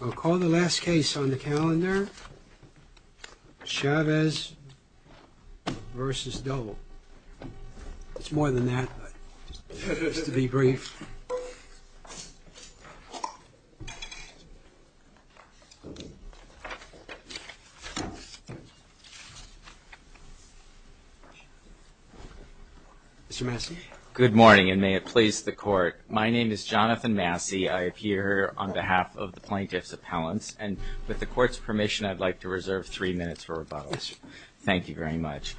I'll call the last case on the calendar. Chavez v. Dole. It's more than that, but just to be brief. Mr. Massey. Good morning, and may it please the court. My name is Jonathan Massey. I appear on behalf of the plaintiff's appellants, and with the court's permission, I'd like to reserve three minutes for rebuttal. Thank you very much.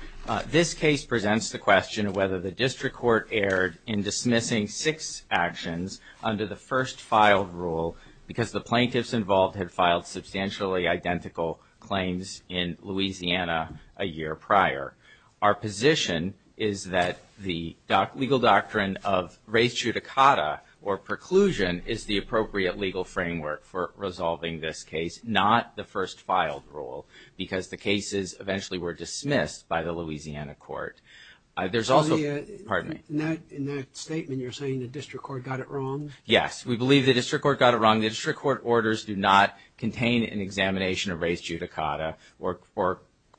This case presents the question of whether the district court erred in dismissing six actions under the first filed rule because the plaintiffs involved had filed substantially identical claims in Louisiana a year prior. Our position is that the legal doctrine of res judicata, or preclusion, is the appropriate legal framework for resolving this case, not the first filed rule, because the cases eventually were dismissed by the Louisiana court. In that statement, you're saying the district court got it wrong? Yes, we believe the district court got it wrong. The district court orders do not contain an examination of res judicata or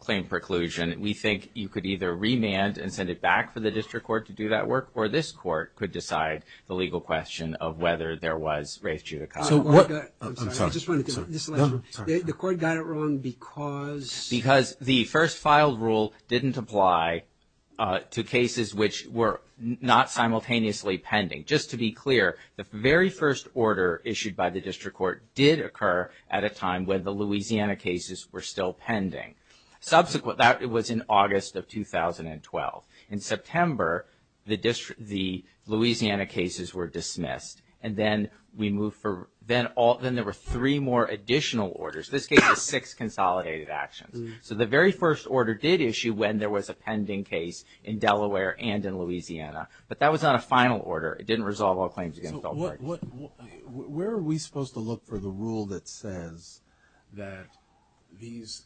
claim preclusion. We think you could either remand and send it back for the district court to do that work, or this court could decide the legal question of whether there was res judicata. I'm sorry. The court got it wrong because? Because the first filed rule didn't apply to cases which were not simultaneously pending. Just to be clear, the very first order issued by the district court did occur at a time when the Louisiana cases were still pending. Subsequent, that was in August of 2012. In September, the Louisiana cases were dismissed, and then there were three more additional orders. This case has six consolidated actions. So the very first order did issue when there was a pending case in Delaware and in Louisiana, but that was not a final order. It didn't resolve all claims against all parties. Where are we supposed to look for the rule that says that these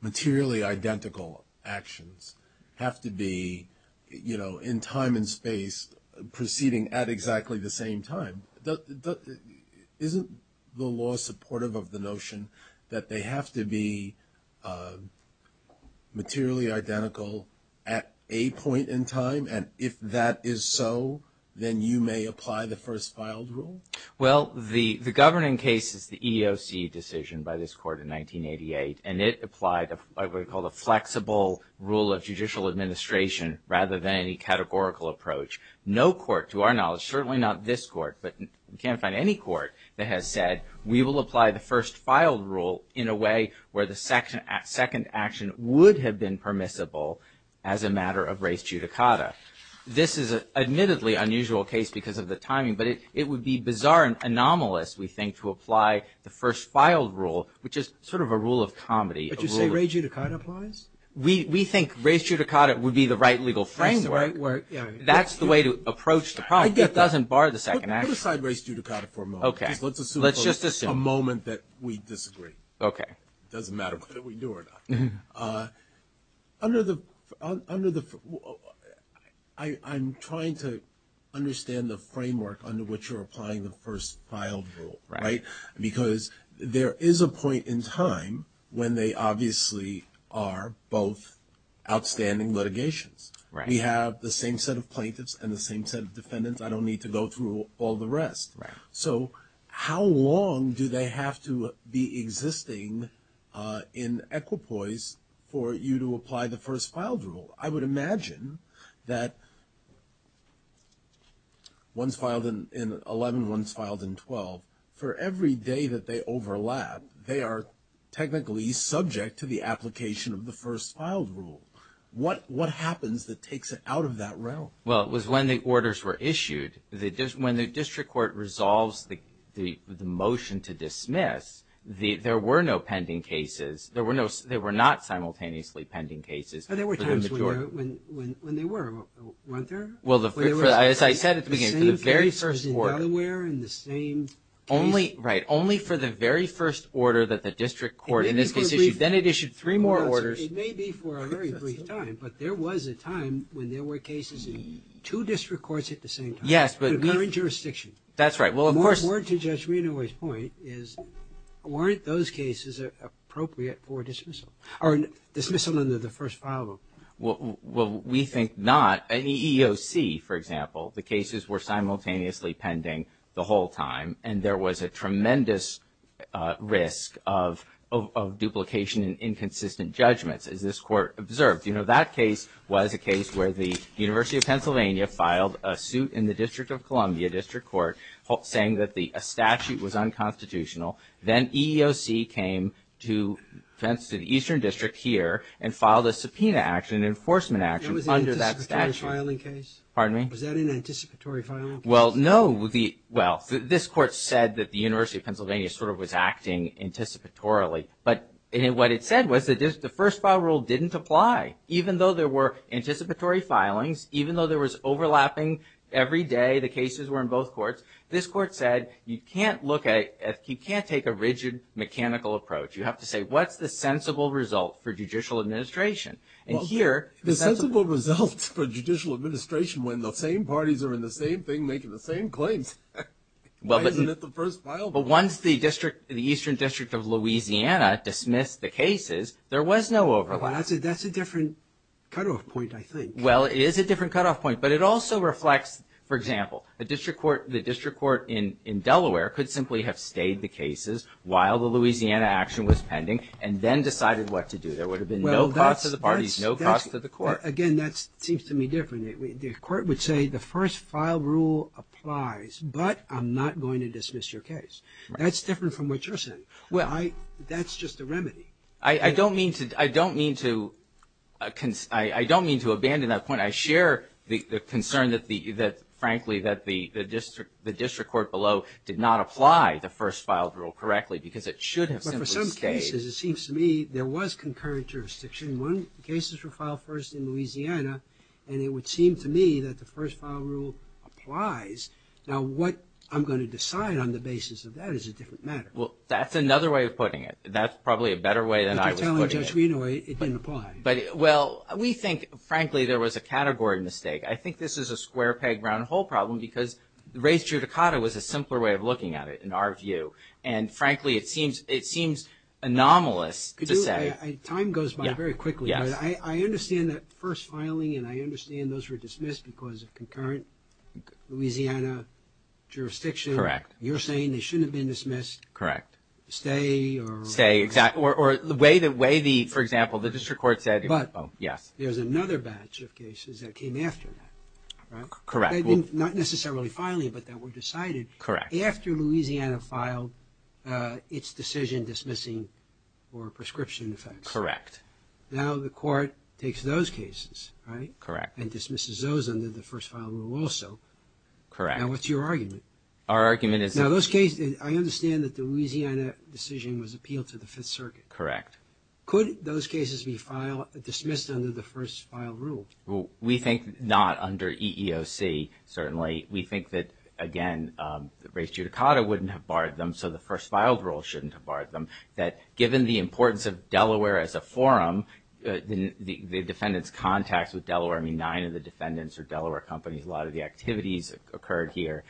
materially identical actions have to be in time and space proceeding at exactly the same time? Isn't the law supportive of the notion that they have to be materially identical at a point in time, and if that is so, then you may apply the first filed rule? Well, the governing case is the EEOC decision by this court in 1988, and it applied what we call the flexible rule of judicial administration rather than any categorical approach. No court, to our knowledge, certainly not this court, but you can't find any court that has said we will apply the first filed rule in a way where the second action would have been permissible as a matter of res judicata. This is an admittedly unusual case because of the timing, but it would be bizarre and anomalous, we think, to apply the first filed rule, which is sort of a rule of comedy. But you say res judicata applies? We think res judicata would be the right legal framework. That's the way to approach the problem. It doesn't bar the second action. Put aside res judicata for a moment. Okay. Let's just assume. A moment that we disagree. Okay. It doesn't matter whether we do or not. I'm trying to understand the framework under which you're applying the first filed rule. Right. Because there is a point in time when they obviously are both outstanding litigations. Right. We have the same set of plaintiffs and the same set of defendants. I don't need to go through all the rest. Right. So how long do they have to be existing in equipoise for you to apply the first filed rule? I would imagine that one's filed in 11, one's filed in 12. For every day that they overlap, they are technically subject to the application of the first filed rule. What happens that takes it out of that realm? Well, it was when the orders were issued. When the district court resolves the motion to dismiss, there were no pending cases. There were not simultaneously pending cases. There were times when they were, weren't there? Well, as I said at the beginning, for the very first court. The same person in Delaware and the same case? Right. Only for the very first order that the district court in this case issued. Then it issued three more orders. It may be for a very brief time, but there was a time when there were cases in two district courts at the same time. Yes, but. But we're in jurisdiction. That's right. Well, of course. More to Judge Reno's point is, weren't those cases appropriate for dismissal? Or dismissal under the first filed rule? Well, we think not. In EEOC, for example, the cases were simultaneously pending the whole time. And there was a tremendous risk of duplication and inconsistent judgments, as this court observed. You know, that case was a case where the University of Pennsylvania filed a suit in the District of Columbia, District Court, saying that a statute was unconstitutional. Then EEOC came to the Eastern District here and filed a subpoena action, an enforcement action under that statute. It was an anticipatory filing case? Pardon me? Was that an anticipatory filing case? Well, no. Well, this court said that the University of Pennsylvania sort of was acting anticipatorily. But what it said was that the first file rule didn't apply. Even though there were anticipatory filings, even though there was overlapping every day, the cases were in both courts, this court said you can't take a rigid mechanical approach. You have to say, what's the sensible result for judicial administration? Well, the sensible result for judicial administration, when the same parties are in the same thing making the same claims, why isn't it the first file rule? But once the Eastern District of Louisiana dismissed the cases, there was no overlap. Well, that's a different cutoff point, I think. Well, it is a different cutoff point. But it also reflects, for example, the District Court in Delaware could simply have stayed the cases while the Louisiana action was pending and then decided what to do. There would have been no cost to the parties, no cost to the court. Again, that seems to me different. The court would say the first file rule applies, but I'm not going to dismiss your case. That's different from what you're saying. Well, that's just a remedy. I don't mean to abandon that point. I share the concern that, frankly, that the District Court below did not apply the first file rule correctly because it should have simply stayed. But for some cases, it seems to me there was concurrent jurisdiction. One, the cases were filed first in Louisiana, and it would seem to me that the first file rule applies. Now, what I'm going to decide on the basis of that is a different matter. Well, that's another way of putting it. That's probably a better way than I was putting it. But you're telling Judge Reno it didn't apply. Well, we think, frankly, there was a category mistake. I think this is a square peg round hole problem because race judicata was a simpler way of looking at it in our view. And, frankly, it seems anomalous to say. Time goes by very quickly. Yes. I understand that first filing, and I understand those were dismissed because of concurrent Louisiana jurisdiction. Correct. You're saying they shouldn't have been dismissed. Correct. Stay or? Stay. Or the way the, for example, the District Court said, oh, yes. But there's another batch of cases that came after that, right? Correct. Not necessarily filing, but that were decided. Correct. After Louisiana filed its decision dismissing for prescription effects. Correct. Now the court takes those cases, right? Correct. And dismisses those under the first file rule also. Correct. Now what's your argument? Our argument is. Now those cases, I understand that the Louisiana decision was appealed to the Fifth Circuit. Correct. Could those cases be dismissed under the first file rule? Well, we think not under EEOC, certainly. We think that, again, race judicata wouldn't have barred them. So the first filed rule shouldn't have barred them. That given the importance of Delaware as a forum, the defendants' contacts with Delaware, I mean, nine of the defendants are Delaware companies. A lot of the activities occurred here.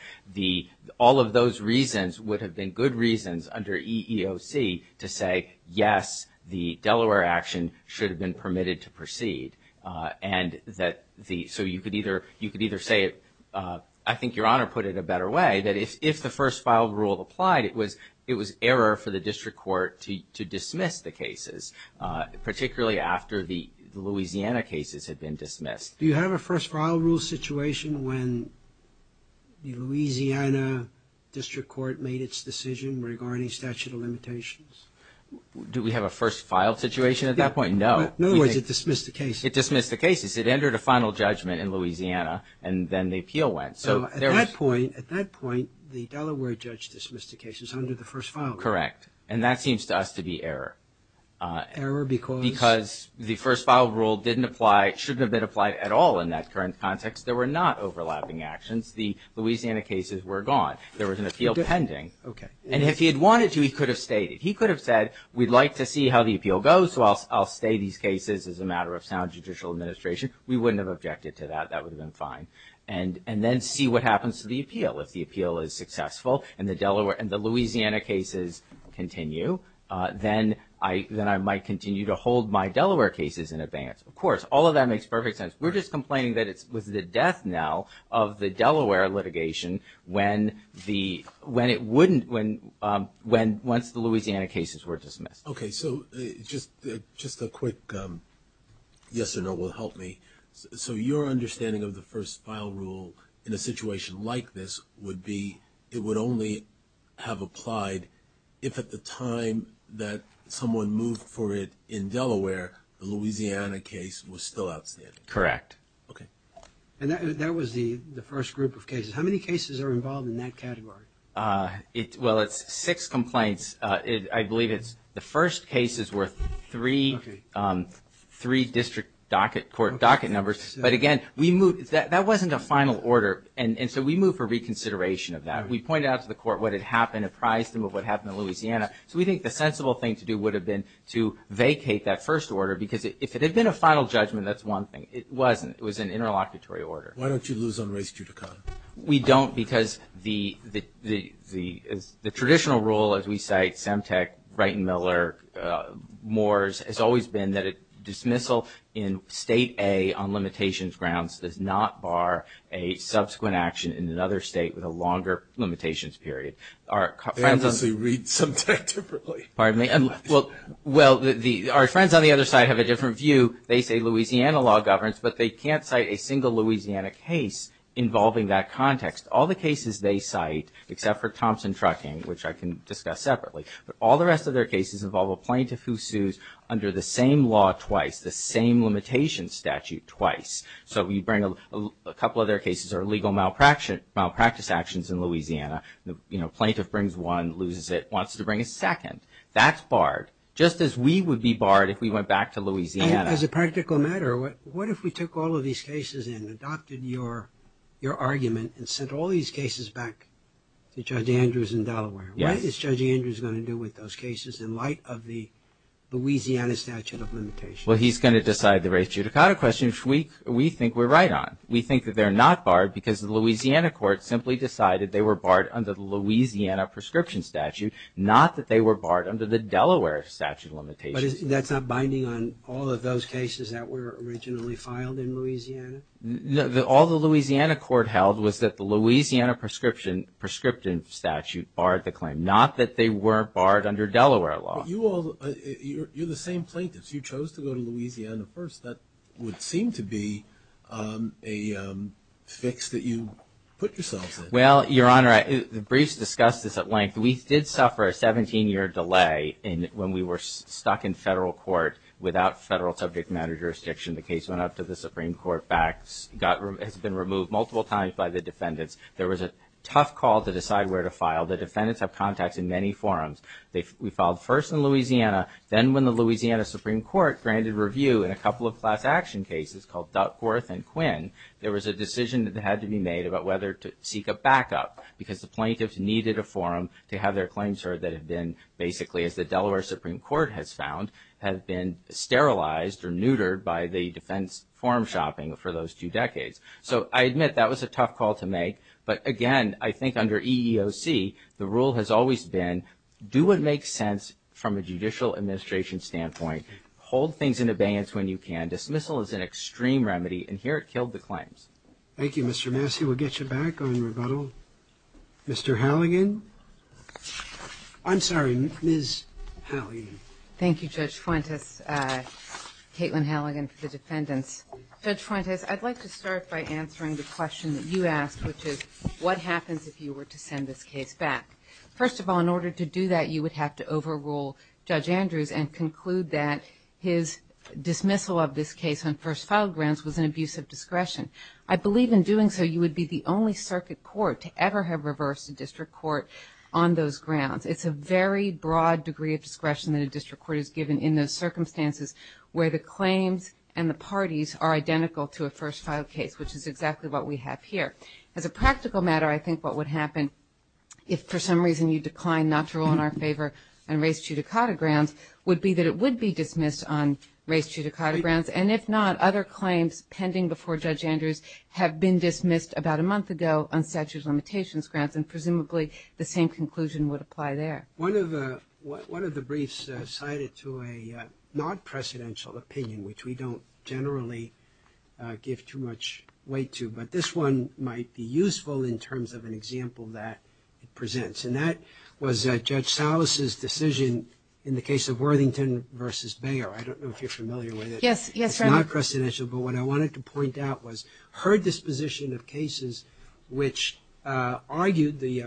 All of those reasons would have been good reasons under EEOC to say, yes, the Delaware action should have been permitted to proceed. So you could either say it. I think Your Honor put it a better way, that if the first file rule applied, it was error for the district court to dismiss the cases, particularly after the Louisiana cases had been dismissed. Do you have a first file rule situation when the Louisiana district court made its decision regarding statute of limitations? Do we have a first file situation at that point? No. In other words, it dismissed the cases. It dismissed the cases. It entered a final judgment in Louisiana, and then the appeal went. So at that point, the Delaware judge dismissed the cases under the first file rule. Correct. And that seems to us to be error. Error because? Because the first file rule didn't apply, shouldn't have been applied at all in that current context. There were not overlapping actions. The Louisiana cases were gone. There was an appeal pending. Okay. And if he had wanted to, he could have stayed. He could have said, we'd like to see how the appeal goes, so I'll stay these cases as a matter of sound judicial administration. We wouldn't have objected to that. That would have been fine. And then see what happens to the appeal. If the appeal is successful and the Louisiana cases continue, then I might continue to hold my Delaware cases in advance. Of course, all of that makes perfect sense. We're just complaining that it was the death now of the Delaware litigation when it wouldn't, once the Louisiana cases were dismissed. Okay, so just a quick yes or no will help me. So your understanding of the first file rule in a situation like this would be it would only have applied if at the time that someone moved for it in Delaware, the Louisiana case was still outstanding. Correct. Okay. And that was the first group of cases. How many cases are involved in that category? Well, it's six complaints. I believe the first cases were three district court docket numbers. But, again, that wasn't a final order, and so we moved for reconsideration of that. We pointed out to the court what had happened, apprised them of what happened in Louisiana. So we think the sensible thing to do would have been to vacate that first order, because if it had been a final judgment, that's one thing. It wasn't. It was an interlocutory order. Why don't you lose on race judicata? We don't because the traditional rule, as we cite, Semtec, Wright and Miller, Moores, has always been that a dismissal in State A on limitations grounds does not bar a subsequent action in another state with a longer limitations period. They obviously read Semtec differently. Pardon me. Well, our friends on the other side have a different view. They say Louisiana law governs, but they can't cite a single Louisiana case involving that context. All the cases they cite, except for Thompson Trucking, which I can discuss separately, but all the rest of their cases involve a plaintiff who sues under the same law twice, the same limitation statute twice. So a couple of their cases are legal malpractice actions in Louisiana. The plaintiff brings one, loses it, wants to bring a second. That's barred, just as we would be barred if we went back to Louisiana. As a practical matter, what if we took all of these cases and adopted your argument and sent all these cases back to Judge Andrews in Delaware? Yes. What is Judge Andrews going to do with those cases in light of the Louisiana statute of limitations? Well, he's going to decide the race judicata question, which we think we're right on. We think that they're not barred because the Louisiana court simply decided they were barred under the Louisiana prescription statute, not that they were barred under the Delaware statute of limitations. But that's not binding on all of those cases that were originally filed in Louisiana? No. All the Louisiana court held was that the Louisiana prescription statute barred the claim, not that they weren't barred under Delaware law. But you all, you're the same plaintiffs. You chose to go to Louisiana first. That would seem to be a fix that you put yourselves in. Well, Your Honor, the briefs discuss this at length. We did suffer a 17-year delay when we were stuck in federal court without federal subject matter jurisdiction. The case went up to the Supreme Court, has been removed multiple times by the defendants. There was a tough call to decide where to file. The defendants have contacts in many forums. We filed first in Louisiana. Then when the Louisiana Supreme Court granted review in a couple of class action cases called Duckworth and Quinn, there was a decision that had to be made about whether to seek a backup because the plaintiffs needed a forum to have their claims heard that had been basically, as the Delaware Supreme Court has found, had been sterilized or neutered by the defense forum shopping for those two decades. So I admit that was a tough call to make. But again, I think under EEOC, the rule has always been do what makes sense from a judicial administration standpoint. Hold things in abeyance when you can. Dismissal is an extreme remedy, and here it killed the claims. Thank you, Mr. Massey. We'll get you back on rebuttal. Mr. Halligan. I'm sorry, Ms. Halligan. Thank you, Judge Fuentes. Caitlin Halligan for the defendants. Judge Fuentes, I'd like to start by answering the question that you asked, which is what happens if you were to send this case back? First of all, in order to do that, you would have to overrule Judge Andrews and conclude that his dismissal of this case on first file grounds was an abuse of discretion. I believe in doing so you would be the only circuit court to ever have reversed a district court on those grounds. It's a very broad degree of discretion that a district court is given in those circumstances where the claims and the parties are identical to a first file case, which is exactly what we have here. As a practical matter, I think what would happen if for some reason you declined not to rule in our favor on race judicata grounds would be that it would be dismissed on race judicata grounds, and if not, other claims pending before Judge Andrews have been dismissed about a month ago on statute of limitations grounds, and presumably the same conclusion would apply there. One of the briefs cited to a non-presidential opinion, which we don't generally give too much weight to, but this one might be useful in terms of an example that it presents, and that was Judge Salas' decision in the case of Worthington v. Bayer. I don't know if you're familiar with it. Yes, yes, I am. It's non-presidential, but what I wanted to point out was her disposition of cases which argued the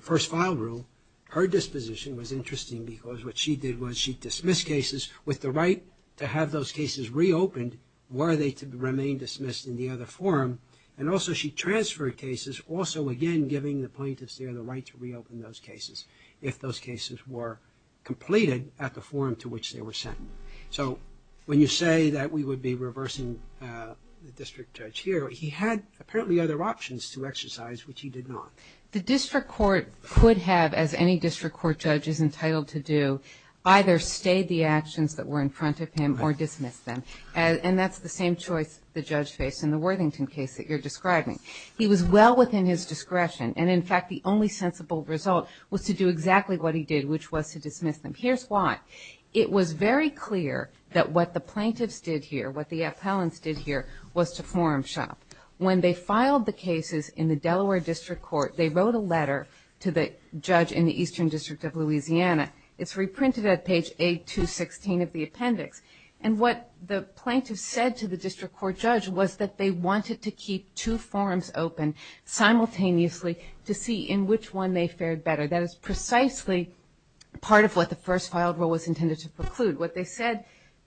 first file rule. Her disposition was interesting because what she did was she dismissed cases with the right to have those cases reopened were they to remain dismissed in the other forum, and also she transferred cases, also again giving the plaintiffs there the right to reopen those cases if those cases were completed at the forum to which they were sent. So when you say that we would be reversing the district judge here, he had apparently other options to exercise which he did not. The district court could have, as any district court judge is entitled to do, either stay the actions that were in front of him or dismiss them, and that's the same choice the judge faced in the Worthington case that you're describing. He was well within his discretion, and in fact, the only sensible result was to do exactly what he did, which was to dismiss them. Here's why. It was very clear that what the plaintiffs did here, what the appellants did here, was to forum shop. When they filed the cases in the Delaware District Court, they wrote a letter to the judge in the Eastern District of Louisiana. It's reprinted at page A216 of the appendix, and what the plaintiffs said to the district court judge was that they wanted to keep two forums open simultaneously to see in which one they fared better. That is precisely part of what the first filed rule was intended to preclude. What they said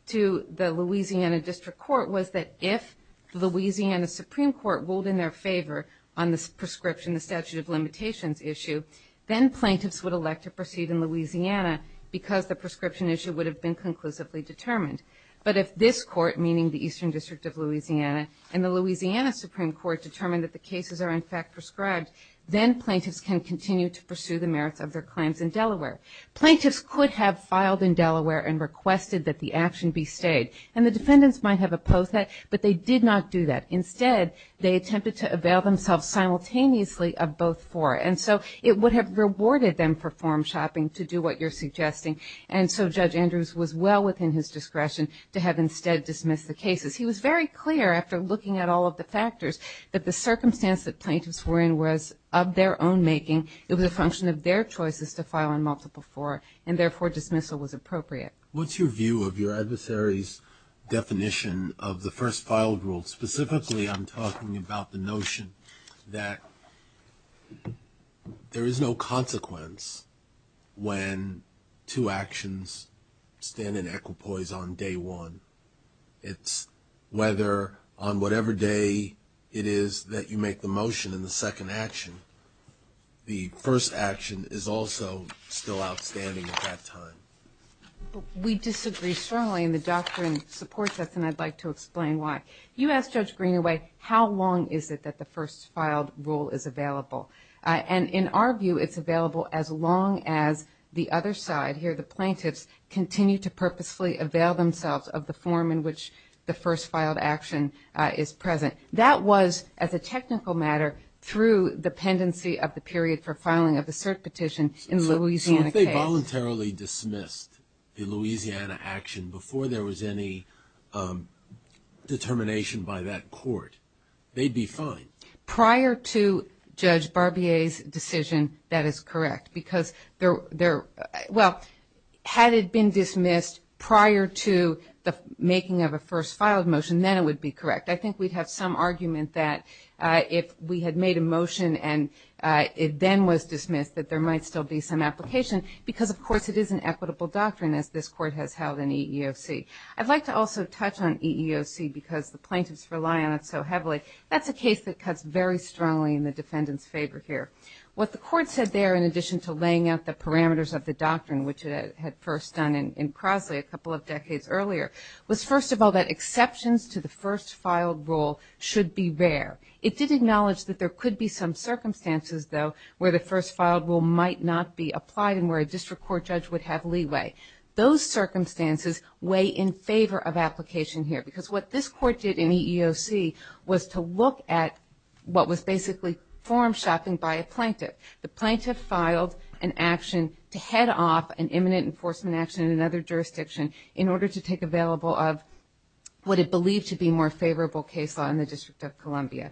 to the Louisiana District Court was that if the Louisiana Supreme Court ruled in their favor on this prescription, the statute of limitations issue, then plaintiffs would elect to proceed in Louisiana because the prescription issue would have been conclusively determined. But if this court, meaning the Eastern District of Louisiana, and the Louisiana Supreme Court determined that the cases are in fact prescribed, then plaintiffs can continue to pursue the merits of their claims in Delaware. Plaintiffs could have filed in Delaware and requested that the action be stayed, and the defendants might have opposed that, but they did not do that. Instead, they attempted to avail themselves simultaneously of both fora, and so it would have rewarded them for forum shopping to do what you're suggesting, and so Judge Andrews was well within his discretion to have instead dismissed the cases. He was very clear after looking at all of the factors that the circumstance that plaintiffs were in was of their own making, it was a function of their choices to file in multiple fora, and therefore dismissal was appropriate. What's your view of your adversary's definition of the first filed rule? Specifically, I'm talking about the notion that there is no consequence when two actions stand in equipoise on day one. It's whether on whatever day it is that you make the motion in the second action, the first action is also still outstanding at that time. We disagree strongly, and the doctrine supports us, and I'd like to explain why. You asked Judge Greenaway how long is it that the first filed rule is available, and in our view it's available as long as the other side, here the plaintiffs, continue to purposefully avail themselves of the form in which the first filed action is present. That was, as a technical matter, through the pendency of the period for filing of the cert petition in Louisiana case. So if they voluntarily dismissed the Louisiana action before there was any determination by that court, they'd be fine. Prior to Judge Barbier's decision, that is correct, because, well, had it been dismissed prior to the making of a first filed motion, then it would be correct. I think we'd have some argument that if we had made a motion and it then was dismissed that there might still be some application, because, of course, it is an equitable doctrine, as this court has held in EEOC. I'd like to also touch on EEOC because the plaintiffs rely on it so heavily. That's a case that cuts very strongly in the defendant's favor here. What the court said there, in addition to laying out the parameters of the doctrine, which it had first done in Crosley a couple of decades earlier, was, first of all, that exceptions to the first filed rule should be rare. It did acknowledge that there could be some circumstances, though, where the first filed rule might not be applied and where a district court judge would have leeway. Those circumstances weigh in favor of application here, because what this court did in EEOC was to look at what was basically form shopping by a plaintiff. The plaintiff filed an action to head off an imminent enforcement action in another jurisdiction in order to take available of what it believed to be more favorable case law in the District of Columbia,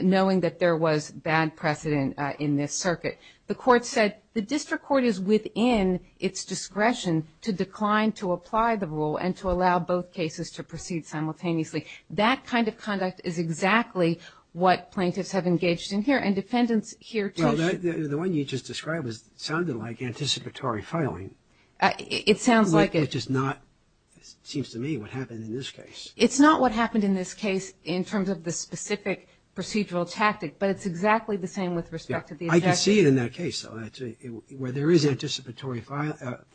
knowing that there was bad precedent in this circuit. The court said the district court is within its discretion to decline to apply the rule and to allow both cases to proceed simultaneously. That kind of conduct is exactly what plaintiffs have engaged in here, and defendants here too should. Well, the one you just described sounded like anticipatory filing. It sounds like it. Which is not, it seems to me, what happened in this case. It's not what happened in this case in terms of the specific procedural tactic, but it's exactly the same with respect to the exception. I can see it in that case, though. There is anticipatory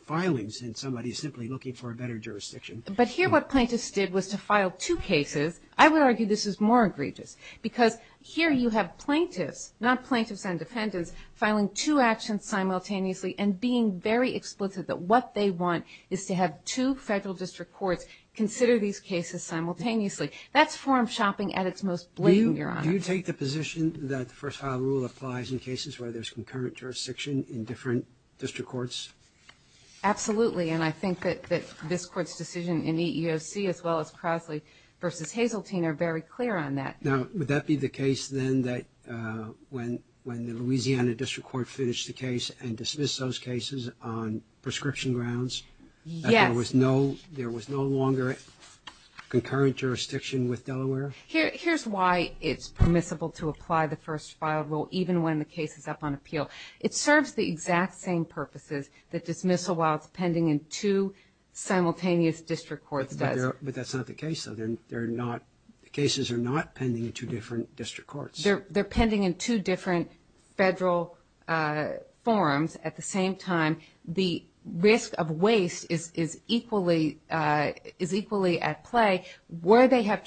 filings in somebody simply looking for a better jurisdiction. But here what plaintiffs did was to file two cases. I would argue this is more egregious, because here you have plaintiffs, not plaintiffs and defendants, filing two actions simultaneously and being very explicit that what they want is to have two federal district courts consider these cases simultaneously. Do you take the position that the first-file rule applies in cases where there's concurrent jurisdiction in different district courts? Absolutely, and I think that this Court's decision in EEOC as well as Crosley v. Hazeltine are very clear on that. Now, would that be the case then that when the Louisiana district court finished the case and dismissed those cases on prescription grounds that there was no longer concurrent jurisdiction with Delaware? Here's why it's permissible to apply the first-file rule even when the case is up on appeal. It serves the exact same purposes that dismissal while it's pending in two simultaneous district courts does. But that's not the case, though. The cases are not pending in two different district courts. They're pending in two different federal forums at the same time. The risk of waste is equally at play. Where they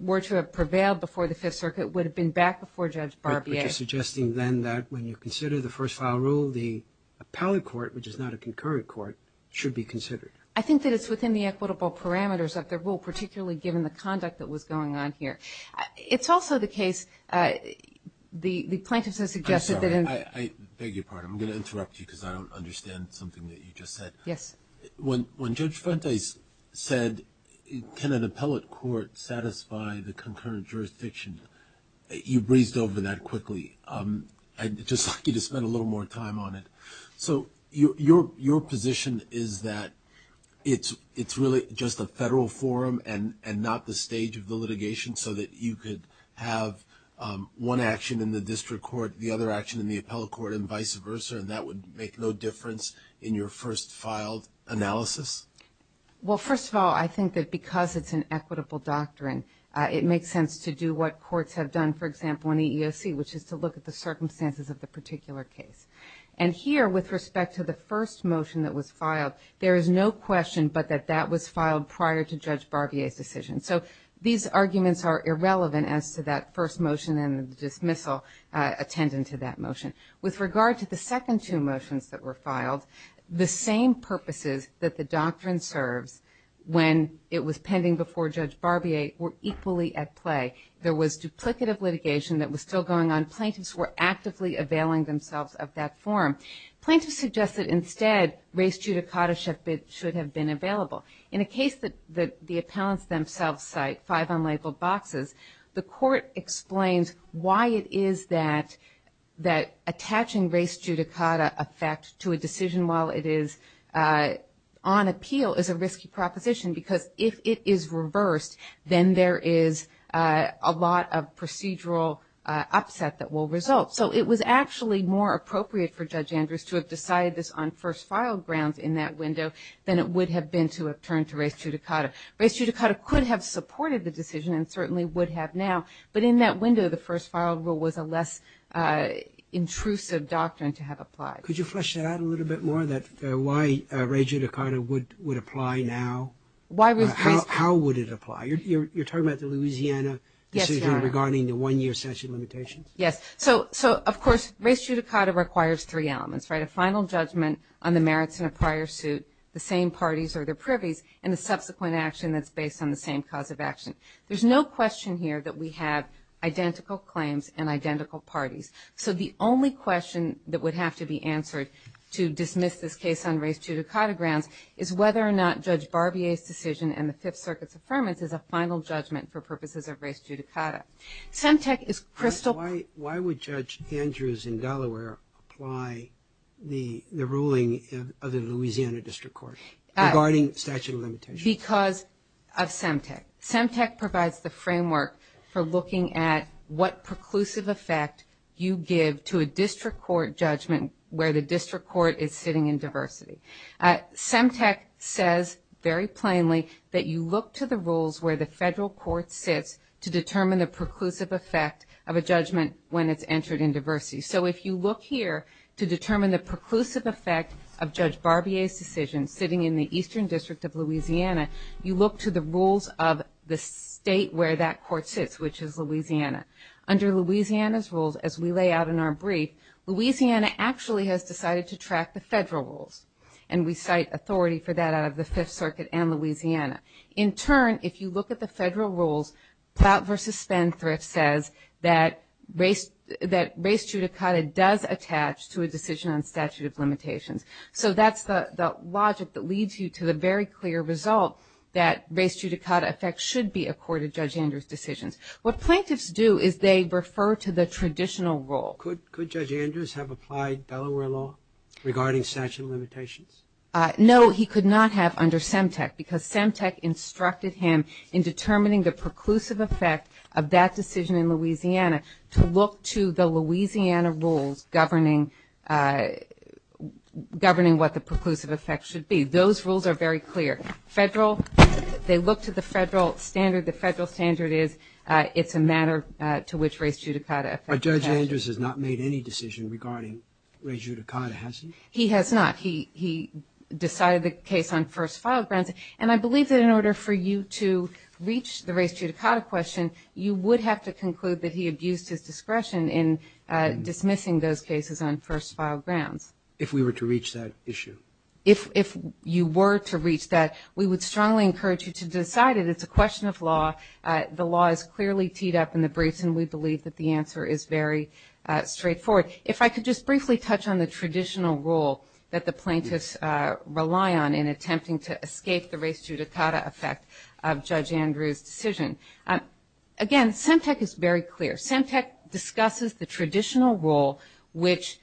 were to have prevailed before the Fifth Circuit would have been back before Judge Barbier. But you're suggesting then that when you consider the first-file rule, the appellate court, which is not a concurrent court, should be considered. I think that it's within the equitable parameters of the rule, particularly given the conduct that was going on here. It's also the case the plaintiffs have suggested that in – I'm sorry. I beg your pardon. I'm going to interrupt you because I don't understand something that you just said. Yes. When Judge Fuentes said, can an appellate court satisfy the concurrent jurisdiction, you breezed over that quickly. I'd just like you to spend a little more time on it. So your position is that it's really just a federal forum and not the stage of the litigation so that you could have one action in the district court, the other action in the appellate court, and vice versa, and that would make no difference in your first-filed analysis? Well, first of all, I think that because it's an equitable doctrine, it makes sense to do what courts have done, for example, in EEOC, which is to look at the circumstances of the particular case. And here, with respect to the first motion that was filed, there is no question but that that was filed prior to Judge Barbier's decision. So these arguments are irrelevant as to that first motion and the dismissal attendant to that motion. With regard to the second two motions that were filed, the same purposes that the doctrine serves when it was pending before Judge Barbier were equally at play. There was duplicative litigation that was still going on. Plaintiffs were actively availing themselves of that forum. Plaintiffs suggested instead race judicata should have been available. In a case that the appellants themselves cite, five unlabeled boxes, the court explains why it is that attaching race judicata effect to a decision while it is on appeal is a risky proposition, because if it is reversed, then there is a lot of procedural upset that will result. So it was actually more appropriate for Judge Andrews to have decided this on first-filed grounds in that window than it would have been to have turned to race judicata. Race judicata could have supported the decision and certainly would have now, but in that window, the first-filed rule was a less intrusive doctrine to have applied. Could you flesh that out a little bit more, why race judicata would apply now? How would it apply? You're talking about the Louisiana decision regarding the one-year statute limitations? Yes. So, of course, race judicata requires three elements, right? A final judgment on the merits in a prior suit, the same parties or their privies, and the subsequent action that's based on the same cause of action. There's no question here that we have identical claims and identical parties. So the only question that would have to be answered to dismiss this case on race judicata grounds is whether or not Judge Barbier's decision and the Fifth Circuit's affirmance is a final judgment for purposes of race judicata. Semtec is crystal clear. Why would Judge Andrews in Delaware apply the ruling of the Louisiana District Court regarding statute of limitations? Because of Semtec. Semtec provides the framework for looking at what preclusive effect you give to a district court judgment where the district court is sitting in diversity. Semtec says very plainly that you look to the rules where the federal court sits to determine the preclusive effect of a judgment when it's entered in diversity. So if you look here to determine the preclusive effect of Judge Barbier's decision sitting in the eastern district of Louisiana, you look to the rules of the state where that court sits, which is Louisiana. Under Louisiana's rules, as we lay out in our brief, Louisiana actually has decided to track the federal rules, and we cite authority for that out of the Fifth Circuit and Louisiana. In turn, if you look at the federal rules, Ploutt v. Spendthrift says that race judicata does attach to a decision on statute of limitations. So that's the logic that leads you to the very clear result that race judicata effect should be accorded Judge Andrews' decisions. What plaintiffs do is they refer to the traditional rule. Could Judge Andrews have applied Delaware law regarding statute of limitations? No, he could not have under Semtec because Semtec instructed him in determining the preclusive effect of that decision in Louisiana to look to the Louisiana rules governing what the preclusive effect should be. Those rules are very clear. Federal, they look to the federal standard. The federal standard is it's a matter to which race judicata effect attaches. But Judge Andrews has not made any decision regarding race judicata, has he? He has not. He decided the case on first-file grounds. And I believe that in order for you to reach the race judicata question, you would have to conclude that he abused his discretion in dismissing those cases on first-file grounds. If we were to reach that issue? If you were to reach that, we would strongly encourage you to decide it. It's a question of law. The law is clearly teed up in the briefs, and we believe that the answer is very straightforward. If I could just briefly touch on the traditional rule that the plaintiffs rely on in attempting to escape the race judicata effect of Judge Andrews' decision. Again, Semtec is very clear. Semtec discusses the traditional rule, which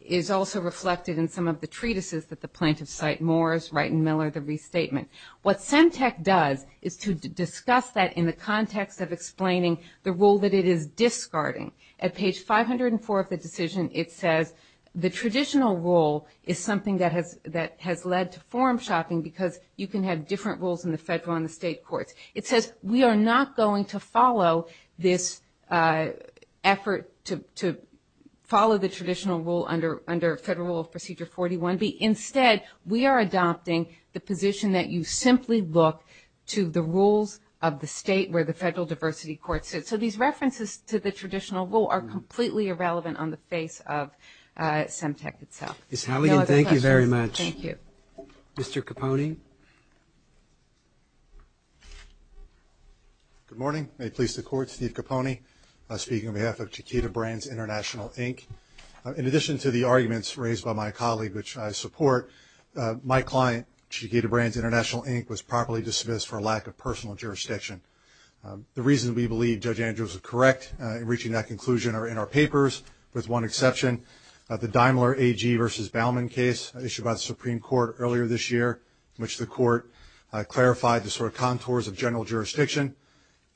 is also reflected in some of the treatises that the plaintiffs cite, Moore's, Wright and Miller, the restatement. What Semtec does is to discuss that in the context of explaining the rule that it is discarding. At page 504 of the decision, it says the traditional rule is something that has led to forum shopping because you can have different rules in the federal and the state courts. It says we are not going to follow this effort to follow the traditional rule under Federal Rule of Procedure 41. Instead, we are adopting the position that you simply look to the rules of the state where the federal diversity court sits. So these references to the traditional rule are completely irrelevant on the face of Semtec itself. Ms. Halligan, thank you very much. Thank you. Mr. Capone. Good morning. May it please the Court, Steve Capone speaking on behalf of Chiquita Brands International, Inc. In addition to the arguments raised by my colleague, which I support, my client, Chiquita Brands International, Inc., was properly dismissed for lack of personal jurisdiction. The reasons we believe Judge Andrews is correct in reaching that conclusion are in our papers, with one exception, the Daimler AG v. Baumann case issued by the Supreme Court earlier this year, which the Court clarified the sort of contours of general jurisdiction.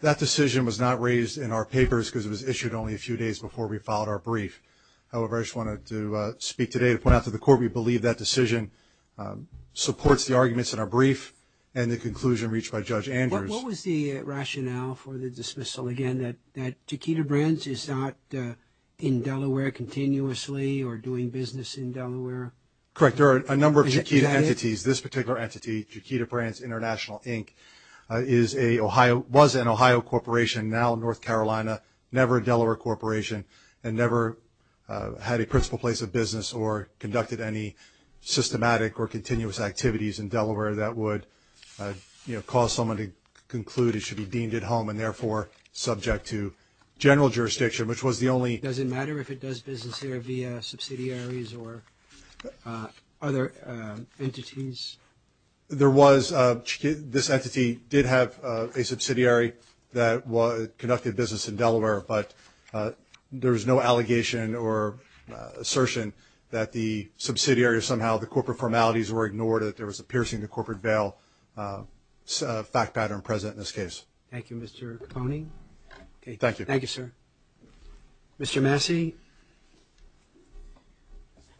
That decision was not raised in our papers because it was issued only a few days before we filed our brief. However, I just wanted to speak today to point out to the Court we believe that decision supports the arguments in our brief and the conclusion reached by Judge Andrews. What was the rationale for the dismissal, again, that Chiquita Brands is not in Delaware continuously or doing business in Delaware? Correct. There are a number of Chiquita entities. This particular entity, Chiquita Brands International, Inc., was an Ohio corporation, now North Carolina, never a Delaware corporation, and never had a principal place of business or conducted any systematic or continuous activities in Delaware that would cause someone to conclude it should be deemed at home and therefore subject to general jurisdiction, which was the only – Does it matter if it does business here via subsidiaries or other entities? There was – this entity did have a subsidiary that conducted business in Delaware, but there was no allegation or assertion that the subsidiary or somehow the corporate formalities were ignored, that there was a piercing to corporate bail fact pattern present in this case. Thank you, Mr. Capone. Thank you. Thank you, sir. Mr. Massey.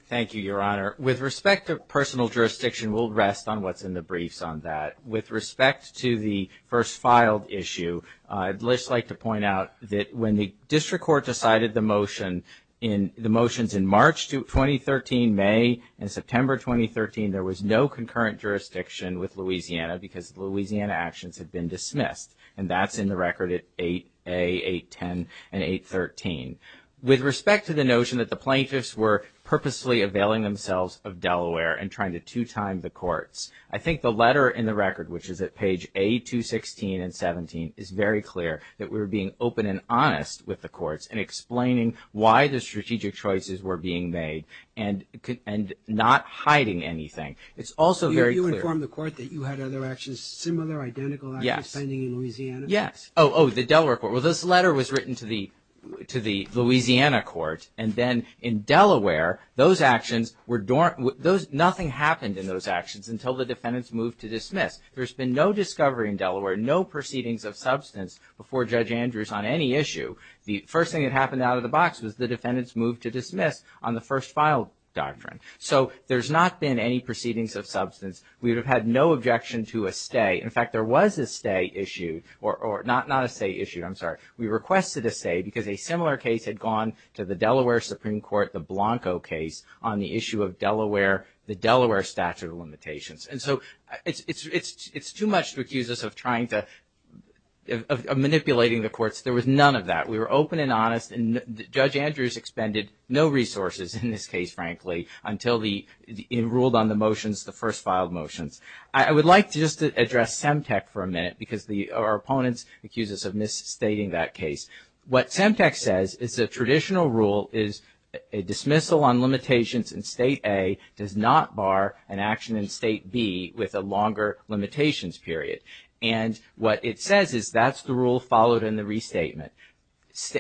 Thank you, Your Honor. With respect to personal jurisdiction, we'll rest on what's in the briefs on that. With respect to the first filed issue, I'd just like to point out that when the district court decided the motion in – the motions in March 2013, May, and September 2013, there was no concurrent jurisdiction with Louisiana because Louisiana actions had been dismissed, and that's in the record at 8A, 810, and 813. With respect to the notion that the plaintiffs were purposely availing themselves of Delaware and trying to two-time the courts, I think the letter in the record, which is at page A216 and A217, is very clear that we were being open and honest with the courts in explaining why the strategic choices were being made and not hiding anything. It's also very clear – You informed the court that you had other actions similar, identical actions pending in Louisiana? Yes. Oh, the Delaware court. Well, this letter was written to the Louisiana court, and then in Delaware, those actions were – nothing happened in those actions until the defendants moved to dismiss. There's been no discovery in Delaware, no proceedings of substance before Judge Andrews on any issue. The first thing that happened out of the box was the defendants moved to dismiss on the first filed doctrine. So there's not been any proceedings of substance. We would have had no objection to a stay. not a stay issued, I'm sorry. We requested a stay because a similar case had gone to the Delaware Supreme Court, the Blanco case on the issue of Delaware, the Delaware statute of limitations. And so it's too much to accuse us of trying to – of manipulating the courts. There was none of that. We were open and honest, and Judge Andrews expended no resources in this case, frankly, until he ruled on the motions, the first filed motions. I would like to just address Semtec for a minute because our opponents accuse us of misstating that case. What Semtec says is a traditional rule is a dismissal on limitations in State A does not bar an action in State B with a longer limitations period. And what it says is that's the rule followed in the restatement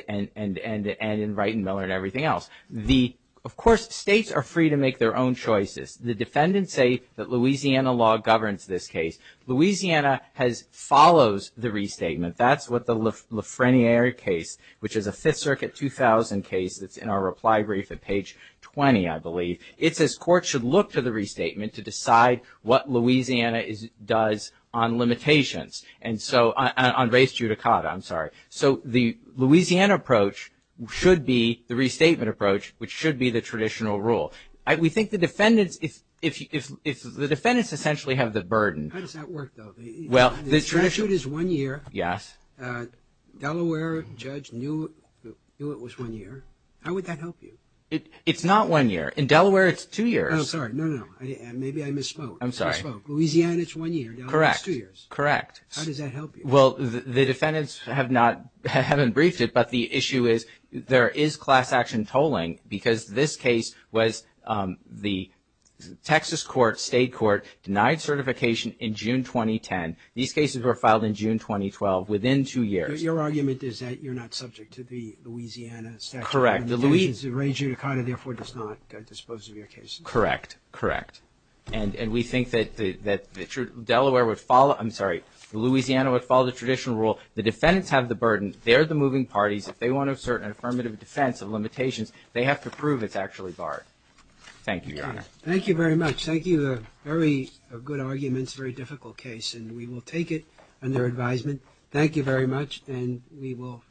and in Wright and Miller and everything else. The – of course, states are free to make their own choices. The defendants say that Louisiana law governs this case. Louisiana has – follows the restatement. That's what the Lafreniere case, which is a Fifth Circuit 2000 case, that's in our reply brief at page 20, I believe. It says courts should look to the restatement to decide what Louisiana does on limitations. And so – on res judicata, I'm sorry. So the Louisiana approach should be the restatement approach, which should be the traditional rule. We think the defendants – if the defendants essentially have the burden. How does that work, though? The statute is one year. Yes. Delaware judge knew it was one year. How would that help you? It's not one year. In Delaware, it's two years. Oh, sorry. No, no. Maybe I misspoke. I'm sorry. Louisiana, it's one year. Correct. Delaware, it's two years. Correct. How does that help you? Well, the defendants have not – haven't briefed it, but the issue is there is class action tolling because this case was the Texas court, state court, denied certification in June 2010. These cases were filed in June 2012, within two years. Your argument is that you're not subject to the Louisiana statute of limitations. Correct. The res judicata, therefore, does not dispose of your cases. Correct. Correct. And we think that the true – Delaware would follow – I'm sorry. Louisiana would follow the traditional rule. The defendants have the burden. They're the moving parties. If they want to assert an affirmative defense of limitations, they have to prove it's actually barred. Thank you, Your Honor. Thank you very much. Thank you. A very good argument. It's a very difficult case, and we will take it under advisement. Thank you very much, and we will recess.